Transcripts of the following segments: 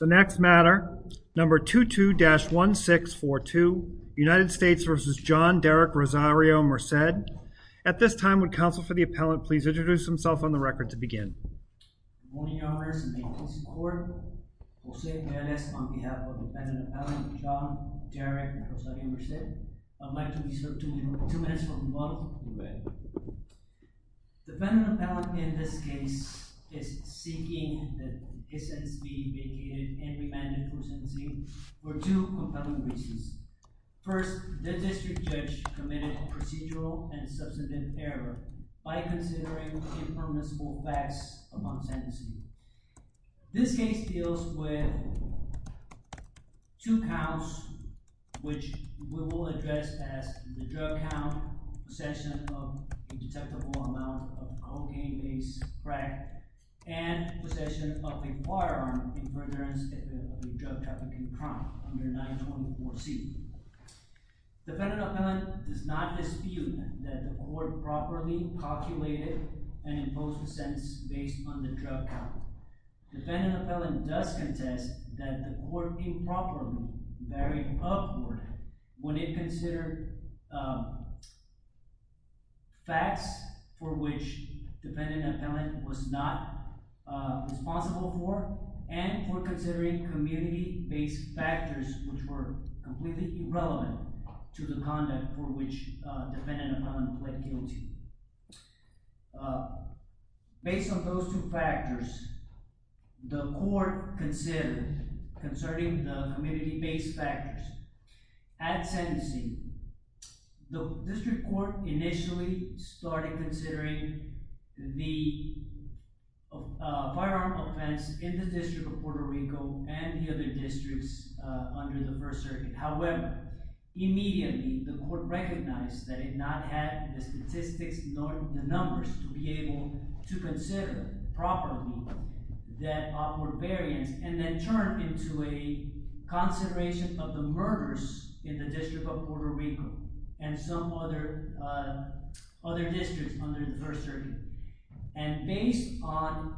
The next matter, number 22-1642, United States v. John Derrick Rosario-Merced. At this time, would counsel for the appellant please introduce himself on the record to Good morning, Your Honor. This is the Maintenance Court. Jose Pérez on behalf of the defendant appellant, John Derrick Rosario-Merced. I'd like to be served two minutes from the model. You may. The defendant appellant in this case is seeking the dissent from the defendant. The defendant is being vacated and remanded for sentencing for two compelling reasons. First, the district judge committed procedural and substantive error by considering impermissible facts among sentencing. This case deals with two counts which we will address as the drug count, possession of indetectable amount of cocaine-based crack, and possession of a firearm in furtherance of a drug-trafficking crime under 924C. The defendant appellant does not dispute that the court properly calculated and imposed the sentence based on the drug count. The defendant appellant does contest that the court improperly varied upward when it considered facts for which the defendant appellant was not responsible for and for considering community-based factors which were completely irrelevant to the conduct for which the defendant appellant pled guilty. Based on those two factors, the court considered concerning the community-based factors. At sentencing, the district court initially started considering the firearm offense in the District of Puerto Rico and the other districts under the First Circuit. However, immediately the court recognized that it not had the statistics nor the numbers to be able to consider properly that upward variance and then turned into a consideration of the murders in the District of Puerto Rico and some other districts under the First Circuit. And based on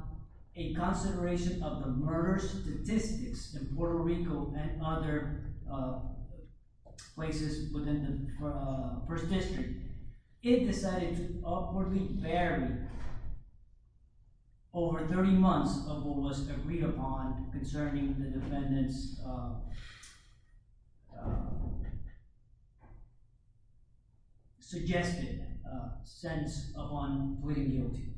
a consideration of the murder statistics in Puerto Rico and other places within the First District, it decided to upwardly vary over 30 months of what was agreed upon concerning the defendant's suggested sentence upon pleading guilty.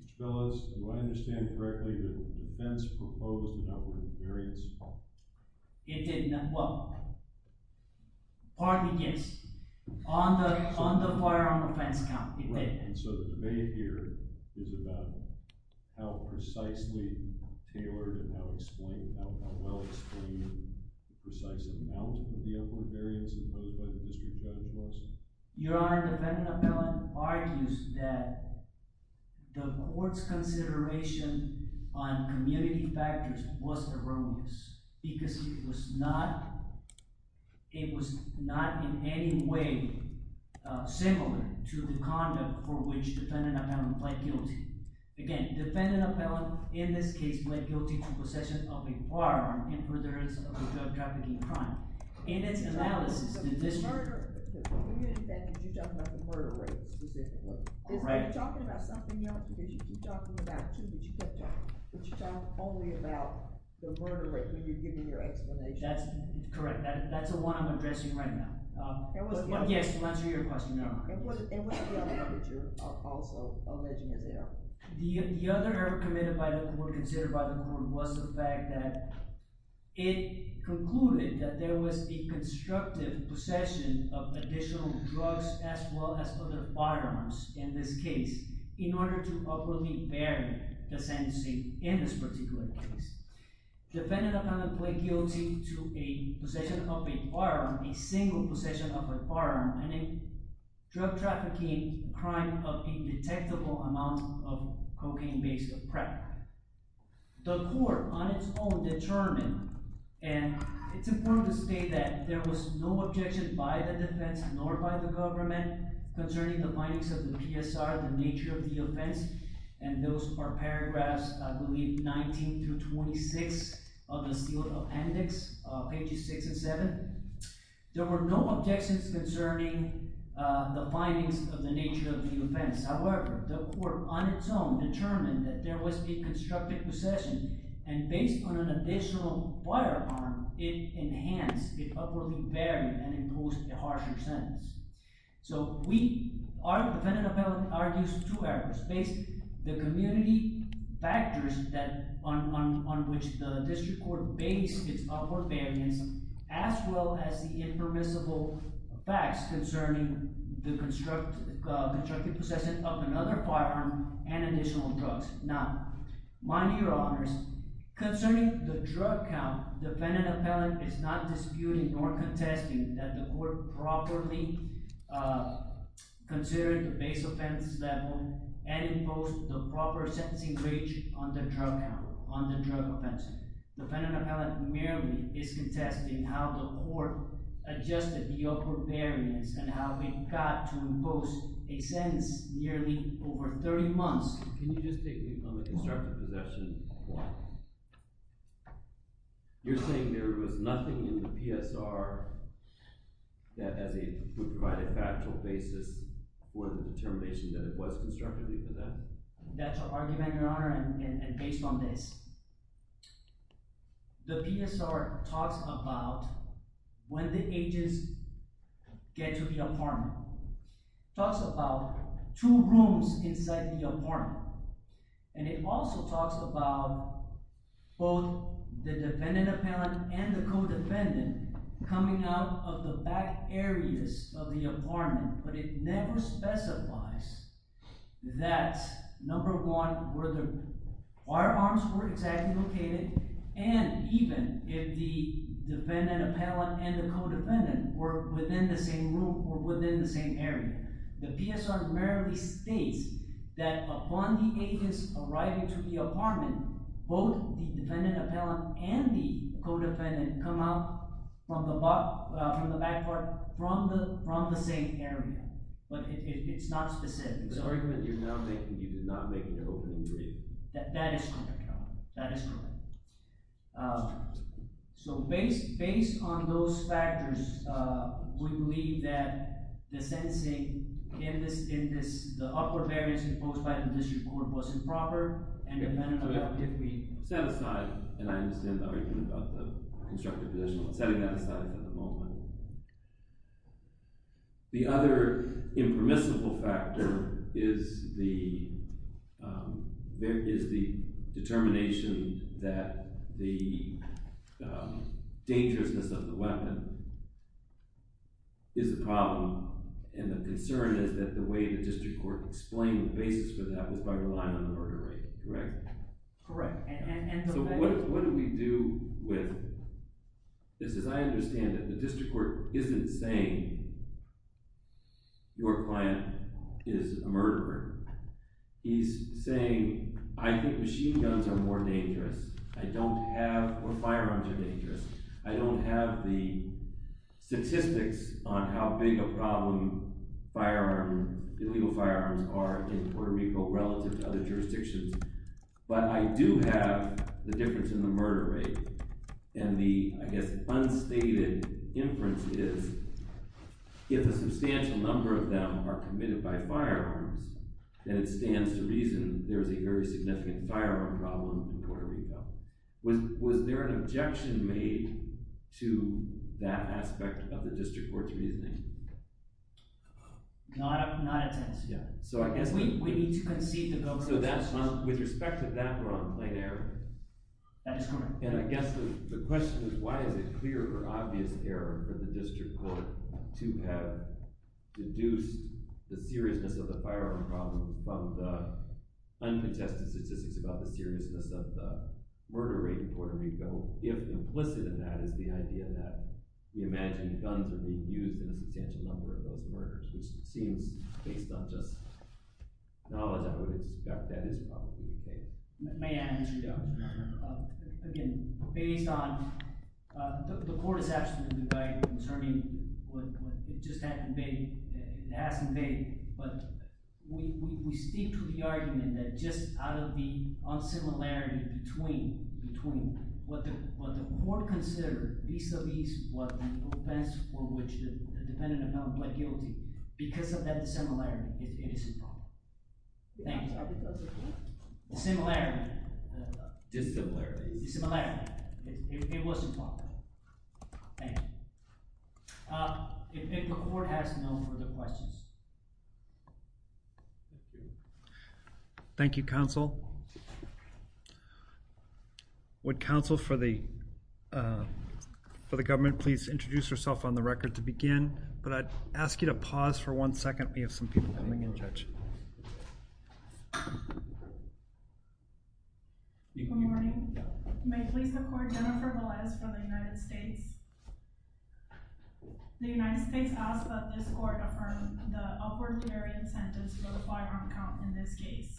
Mr. Phyllis, do I understand correctly that the defense proposed an upward variance? It did not. Well, partly yes. On the firearm offense count, it did. And so the debate here is about how precisely tailored and how well explained the precise amount of the upward variance imposed by the district judge was? Your Honor, the defendant appellant argues that the court's consideration on community defendant appellant plead guilty. Again, defendant appellant, in this case, plead guilty to possession of a firearm in furtherance of a drug trafficking crime. In its analysis, the district… So the murder… Because when you did that, did you talk about the murder rate specifically? Right. Is that talking about something else? Because you keep talking about it, too, but you kept talking… But you talk only about the murder rate when you're giving your explanation. That's correct. That's the one I'm addressing right now. Yes, to answer your question, Your Honor. And what's the other arbiter of also alleging his error? The other error committed by the court, considered by the court, was the fact that it concluded that there was a constructive possession of additional drugs as well as other firearms in this case in order to upwardly vary the sentencing in this particular case. Defendant appellant plead guilty to a possession of a firearm, a single possession of a firearm, and a drug trafficking crime of indetectable amount of cocaine-based crack. The court, on its own, determined… And it's important to state that there was no objection by the defense nor by the government concerning the findings of the PSR, the nature of the offense. And those are paragraphs, I believe, 19 through 26 of the sealed appendix, pages 6 and 7. There were no objections concerning the findings of the nature of the offense. However, the court, on its own, determined that there was a constructive possession, and based on an additional firearm, it enhanced, it upwardly varied, and imposed a harsher sentence. So we… Defendant appellant argues two errors. The community factors on which the district court based its upward variance, as well as the impermissible facts concerning the constructive possession of another firearm and additional drugs. Now, mind your honors, concerning the drug count, defendant appellant is not disputing nor contesting that the court properly considered the base offense level and imposed the proper sentencing bridge on the drug count, on the drug offense. Defendant appellant merely is contesting how the court adjusted the upward variance and how it got to impose a sentence nearly over 30 months. Can you just take me on the constructive possession? You're saying there was nothing in the PSR that as a factual basis for the determination that it was constructive even then? That's an argument, your honor, and based on this. The PSR talks about when the agents get to the apartment. It talks about two rooms inside the apartment. And it also talks about both the defendant appellant and the co-defendant coming out of the back areas of the apartment. But it never specifies that, number one, where the firearms were exactly located and even if the defendant appellant and the co-defendant were within the same room or within the same area. The PSR merely states that upon the agents arriving to the apartment, both the defendant appellant and the co-defendant come out from the back part from the same area. But it's not specific. The argument you're now making, you did not make an opening for it. That is correct, your honor. That is correct. So based on those factors, we believe that the sentencing in this, the upper variance imposed by the district court was improper and the penalty did not fit. Set aside, and I understand the argument about the constructive position. I'm setting that aside for the moment. The other impermissible factor is the determination that the dangerousness of the weapon is a problem and the concern is that the way the district court explained the basis for that was by relying on the murder rate, correct? Correct. So what do we do with this? Because I understand that the district court isn't saying, your client is a murderer. He's saying, I think machine guns are more dangerous. I don't have, or firearms are dangerous. I don't have the statistics on how big a problem firearms, illegal firearms are in Puerto Rico relative to other jurisdictions. But I do have the difference in the murder rate and the, I guess, unstated inference is if a substantial number of them are committed by firearms, then it stands to reason there is a very significant firearm problem in Puerto Rico. Was there an objection made to that aspect of the district court's reasoning? Not a, not a tense. So I guess we need to concede the vote. So that's, with respect to that, we're on a plain error. That is correct. And I guess the question is, why is it clear or obvious error for the district court to have deduced the seriousness of the firearm problem from the uncontested statistics about the seriousness of the murder rate in Puerto Rico if implicit in that is the idea that the imagined guns are being used in a substantial number of those murders, which seems, based on just knowledge, I would expect that is probably the case. May I answer that? Again, based on, the court is absolutely right concerning what, it just hasn't been, it hasn't been, but we stick to the argument that just out of the unsimilarity between, between what the court considered vis-a-vis what the offense for which the defendant amounted to a guilty, because of that dissimilarity, it is a problem. Thank you. Dissimilarity. Dissimilarity. Dissimilarity. It was a problem. Thank you. If the court has no further questions. Thank you, counsel. Would counsel for the government please introduce herself on the record to begin? But I'd ask you to pause for one second. We have some people coming in, judge. Good morning. May it please the court, Jennifer Velez from the United States. The United States asks that this court affirm the upward theory incentives for the firearm count in this case.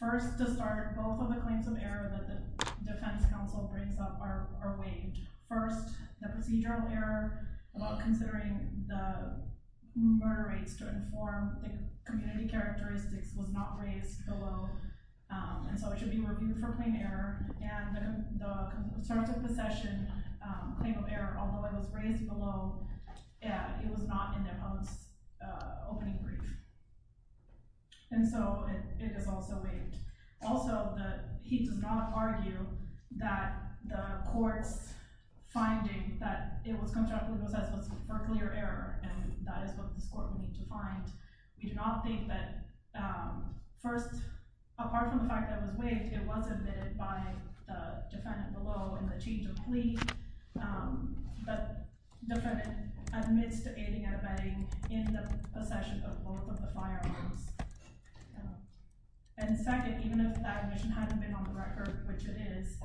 First, to start, both of the claims of error that the defense counsel brings up are waived. First, the procedural error about considering the murder rates to inform the community characteristics was not raised below. And so it should be reviewed for plain error. And the concerns of possession claim of error, although it was raised below, it was not in the public's opening brief. And so it is also waived. Also, he does not argue that the court's finding that it was contractually possessed was for clear error. And that is what this court will need to find. We do not think that first, apart from the fact that it was waived, it was admitted by the defendant below in the change of plea. But the defendant admits to aiding and abetting in the possession of both of the firearms. And second, even if that admission hadn't been on the record, which it is,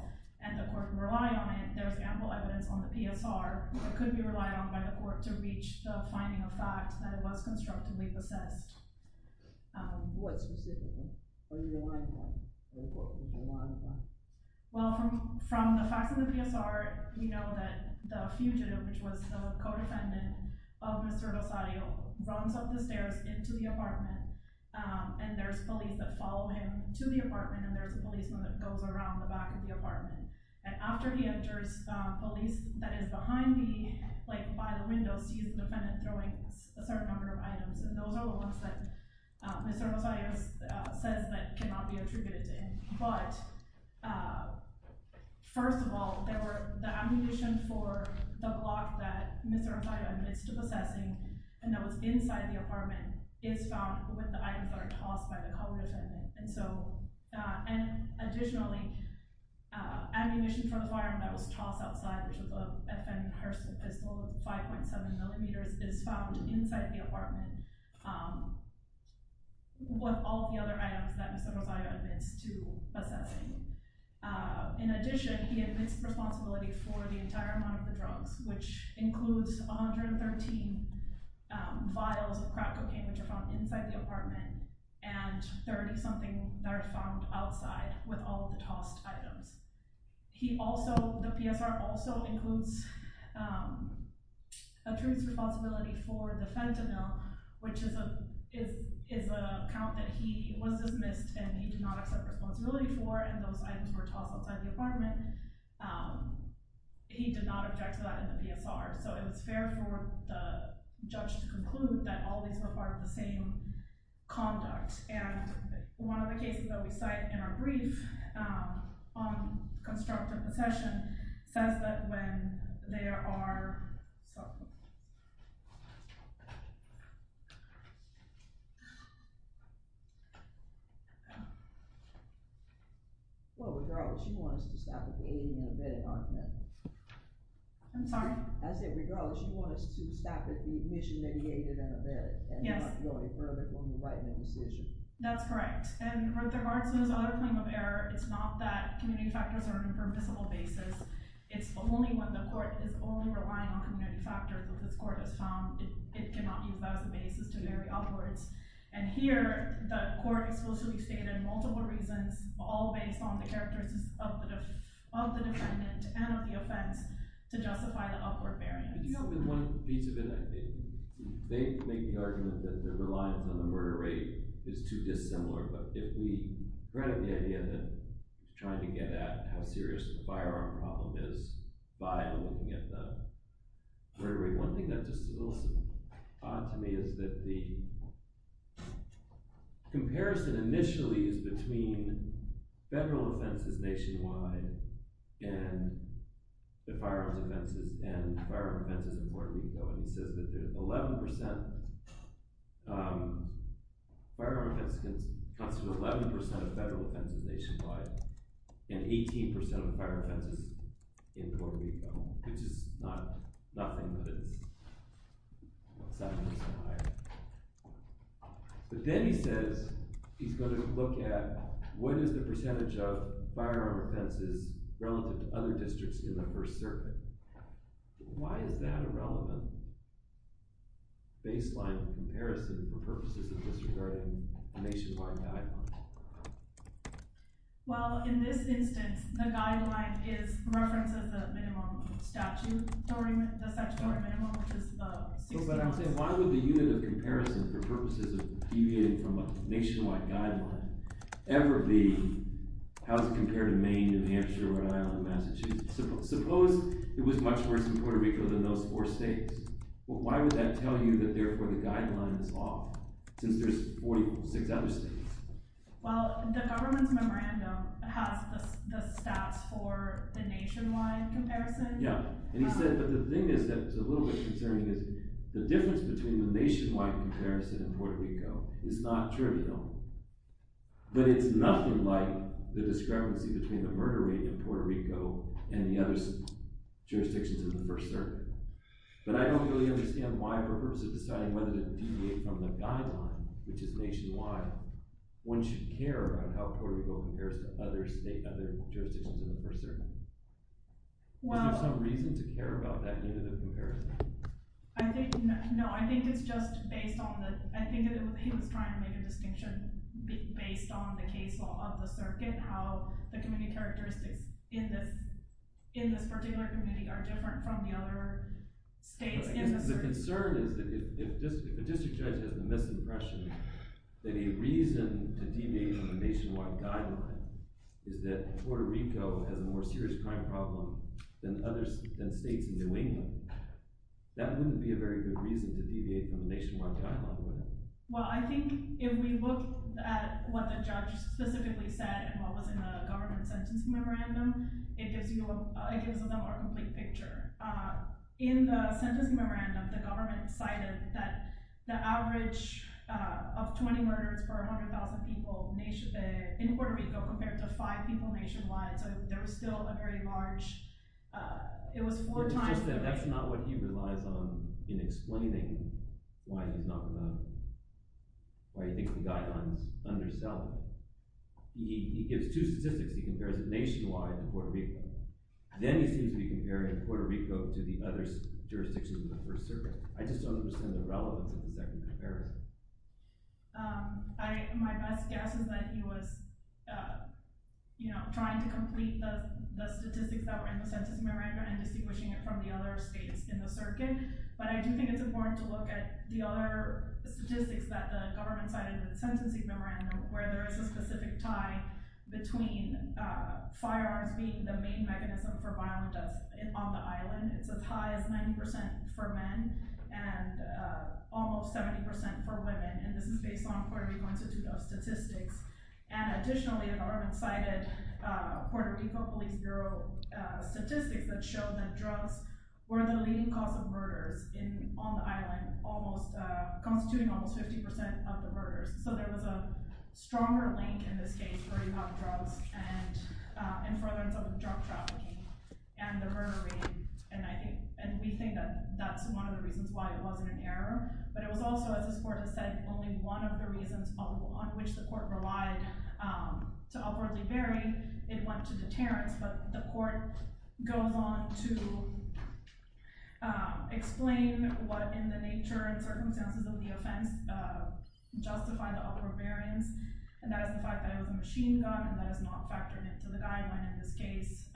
and the court can rely on it, there's ample evidence on the PSR, it could be relied on by the court to reach the finding of fact that it was constructively possessed. What specifically? What are you relying on? What are the court people relying on? Well, from the facts of the PSR, we know that the fugitive, which was the co-defendant of Mr. Rosario, runs up the stairs into the apartment. And there's police that follow him to the apartment, and there's a policeman that goes around the back of the apartment. And after he enters, police that is behind me, like by the window, sees the defendant throwing a certain number of items. And those are the ones that Mr. Rosario says that cannot be attributed to him. But, first of all, there were the accusation for the block that Mr. Rosario was inside the apartment, is found with the items that are tossed by the co-defendant. And additionally, ammunition from the firearm that was tossed outside, which was a FN Hersta pistol with 5.7 millimeters, is found inside the apartment with all the other items that Mr. Rosario admits to possessing. Which includes 113 vials of crack cocaine, which are found inside the apartment, and 30-something that are found outside with all of the tossed items. The PSR also includes a truce responsibility for the fentanyl, which is an account that he was dismissed, and he did not accept responsibility for, and those items were tossed outside the apartment. He did not object to that in the PSR, so it was fair for the judge to conclude that all these were part of the same conduct. And one of the cases that we cite in our brief on constructive possession says that when there are... Well, regardless, you want us to stop at the aiding and abetting argument. I'm sorry? I said, regardless, you want us to stop at the admission that he aided and abetted. Yes. And not go any further on the right-hand decision. That's correct. And with regards to his other claim of error, it's not that community factors are an impermissible basis. It's only when the court is only relying on community factors, that this court has found it cannot use that as a basis to vary upwards. And here, the court is supposed to be stated in multiple reasons, all based on the characteristics of the defendant and of the offense, to justify the upward variance. You know, one piece of it, I think, they make the argument that their reliance on the murder rate is too dissimilar, but if we read the idea that trying to get at how serious a firearm problem is by looking at the murder rate, one thing that's just a little odd to me is that the comparison initially is between federal offenses nationwide and the firearms offenses, and firearms offenses in Puerto Rico. And it says that the 11% firearm offense comes from 11% of federal offenses nationwide, and 18% of firearm offenses in Puerto Rico, which is nothing but 7% higher. But then he says he's going to look at what is the percentage of firearm offenses relative to other districts in the First Circuit. Why is that irrelevant? Baseline comparison for purposes of disregarding Well, in this instance, the guideline is the reference of the minimum statute, the statutory minimum, which is 16%. But I'm saying, why would the unit of comparison for purposes of deviating from a nationwide guideline ever be, how does it compare to Maine, New Hampshire, Rhode Island, Massachusetts? Suppose it was much worse in Puerto Rico than those four states. Why would that tell you that, therefore, the guideline is off, since there's 46 other states? Well, the government's memorandum has the stats for the nationwide comparison. Yeah, and he said, but the thing is that's a little bit concerning is the difference between the nationwide comparison in Puerto Rico is not trivial. But it's nothing like the discrepancy between the murder rate in Puerto Rico and the other jurisdictions in the First Circuit. But I don't really understand why, for purposes of deciding whether to deviate from the guideline, which is nationwide, one should care about how Puerto Rico compares to other jurisdictions in the First Circuit. Is there some reason to care about that unit of comparison? I think, no, I think it's just based on the, I think he was trying to make a distinction based on the case law of the circuit, how the community characteristics in this particular community are different from the other states in the circuit. My concern is that if a district judge has the misimpression that a reason to deviate from the nationwide guideline is that Puerto Rico has a more serious crime problem than states in New England, that wouldn't be a very good reason to deviate from the nationwide guideline, would it? Well, I think if we look at what the judge specifically said and what was in the government sentencing memorandum, it gives them a complete picture. In the sentencing memorandum, the government cited that the average of 20 murders per 100,000 people in Puerto Rico compared to five people nationwide, so there was still a very large, it was four times... It's just that that's not what he relies on in explaining why he's not going to, why he thinks the guideline is underselling. Then he seems to be comparing Puerto Rico to the other jurisdictions in the First Circuit. I just don't understand the relevance of the second comparison. My best guess is that he was trying to complete the statistics that were in the sentencing memorandum and distinguishing it from the other states in the circuit, but I do think it's important to look at the other statistics that the government cited in the sentencing memorandum, where there is a specific tie between firearms being the main mechanism for violent deaths on the island. It's as high as 90% for men and almost 70% for women, and this is based on Puerto Rico Institute of Statistics. Additionally, the government cited Puerto Rico Police Bureau statistics that showed that drugs were the leading cause of murders on the island, constituting almost 50% of the murders. So there was a stronger link in this case where you have drugs and furtherance of drug trafficking and the murder rate, and we think that that's one of the reasons why it wasn't an error. But it was also, as this court has said, only one of the reasons on which the court relied to upwardly vary. It went to deterrence, but the court goes on to explain what in the nature and circumstances of the offense justified the upward variance, and that is the fact that it was a machine gun, and that is not factored into the guideline in this case,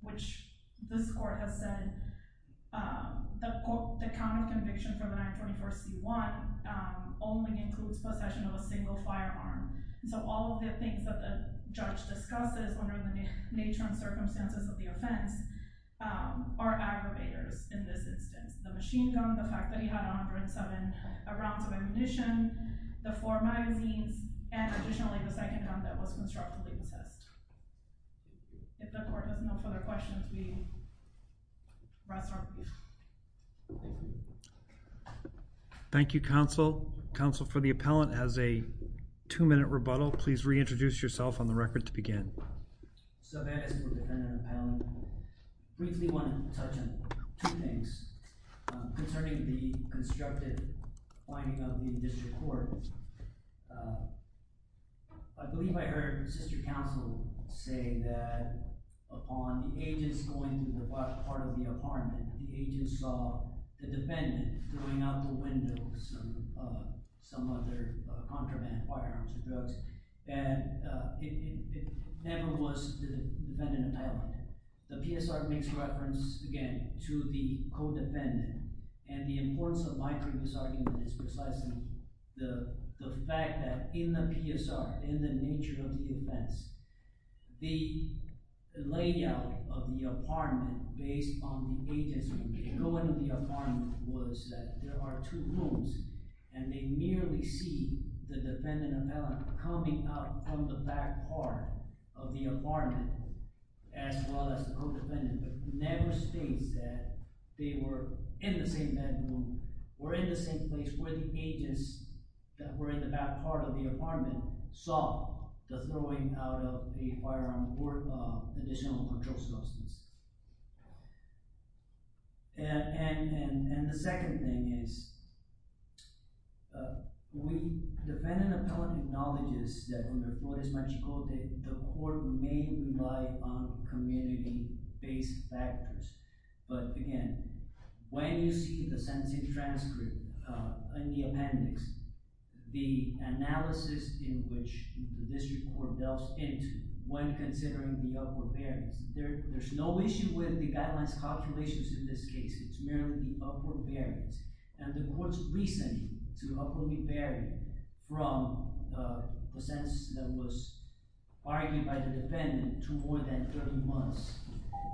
which this court has said the count of conviction for the 924C1 only includes possession of a single firearm. So all of the things that the judge discusses under the nature and circumstances of the offense are aggravators in this instance. The machine gun, the fact that he had 107 rounds of ammunition, the four magazines, and additionally the second gun that was constructively possessed. If the court has no further questions, we rest our case. Thank you, counsel. Counsel for the appellant has a two-minute rebuttal. Please reintroduce yourself on the record to begin. So that is for defendant appellant. Briefly want to touch on two things concerning the constructive finding of the district court. I believe I heard sister counsel say that upon the agents going to the part of the apartment, the agent saw the defendant throwing out the window some other contraband firearms or drugs. And it never was the defendant appellant. The PSR makes reference, again, to the co-defendant. And the importance of my previous argument is precisely the fact that in the PSR, in the nature of the offense, the layout of the apartment based on the agents going to the apartment was that there are two rooms and they merely see the defendant appellant coming out from the back part of the apartment as well as the co-defendant, but never states that they were in the same bedroom or in the same place where the agents that were in the back part of the apartment saw the throwing out of the firearm or additional control substances. And the second thing is the defendant appellant acknowledges that under Flores-Marchicote, the court may rely on community-based factors. But again, when you see the sentencing transcript in the appendix, the analysis in which the district court delves into when considering the upward variance, there's no issue with the guidelines calculations in this case. It's merely the upward variance. And the court's reasoning to upwardly vary from the sentence that was argued by the defendant to more than 30 months.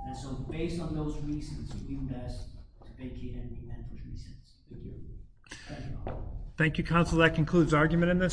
And so based on those reasons, we would ask to vacate and amend for three sentences. Thank you. Thank you. Thank you, counsel. That concludes argument in this case.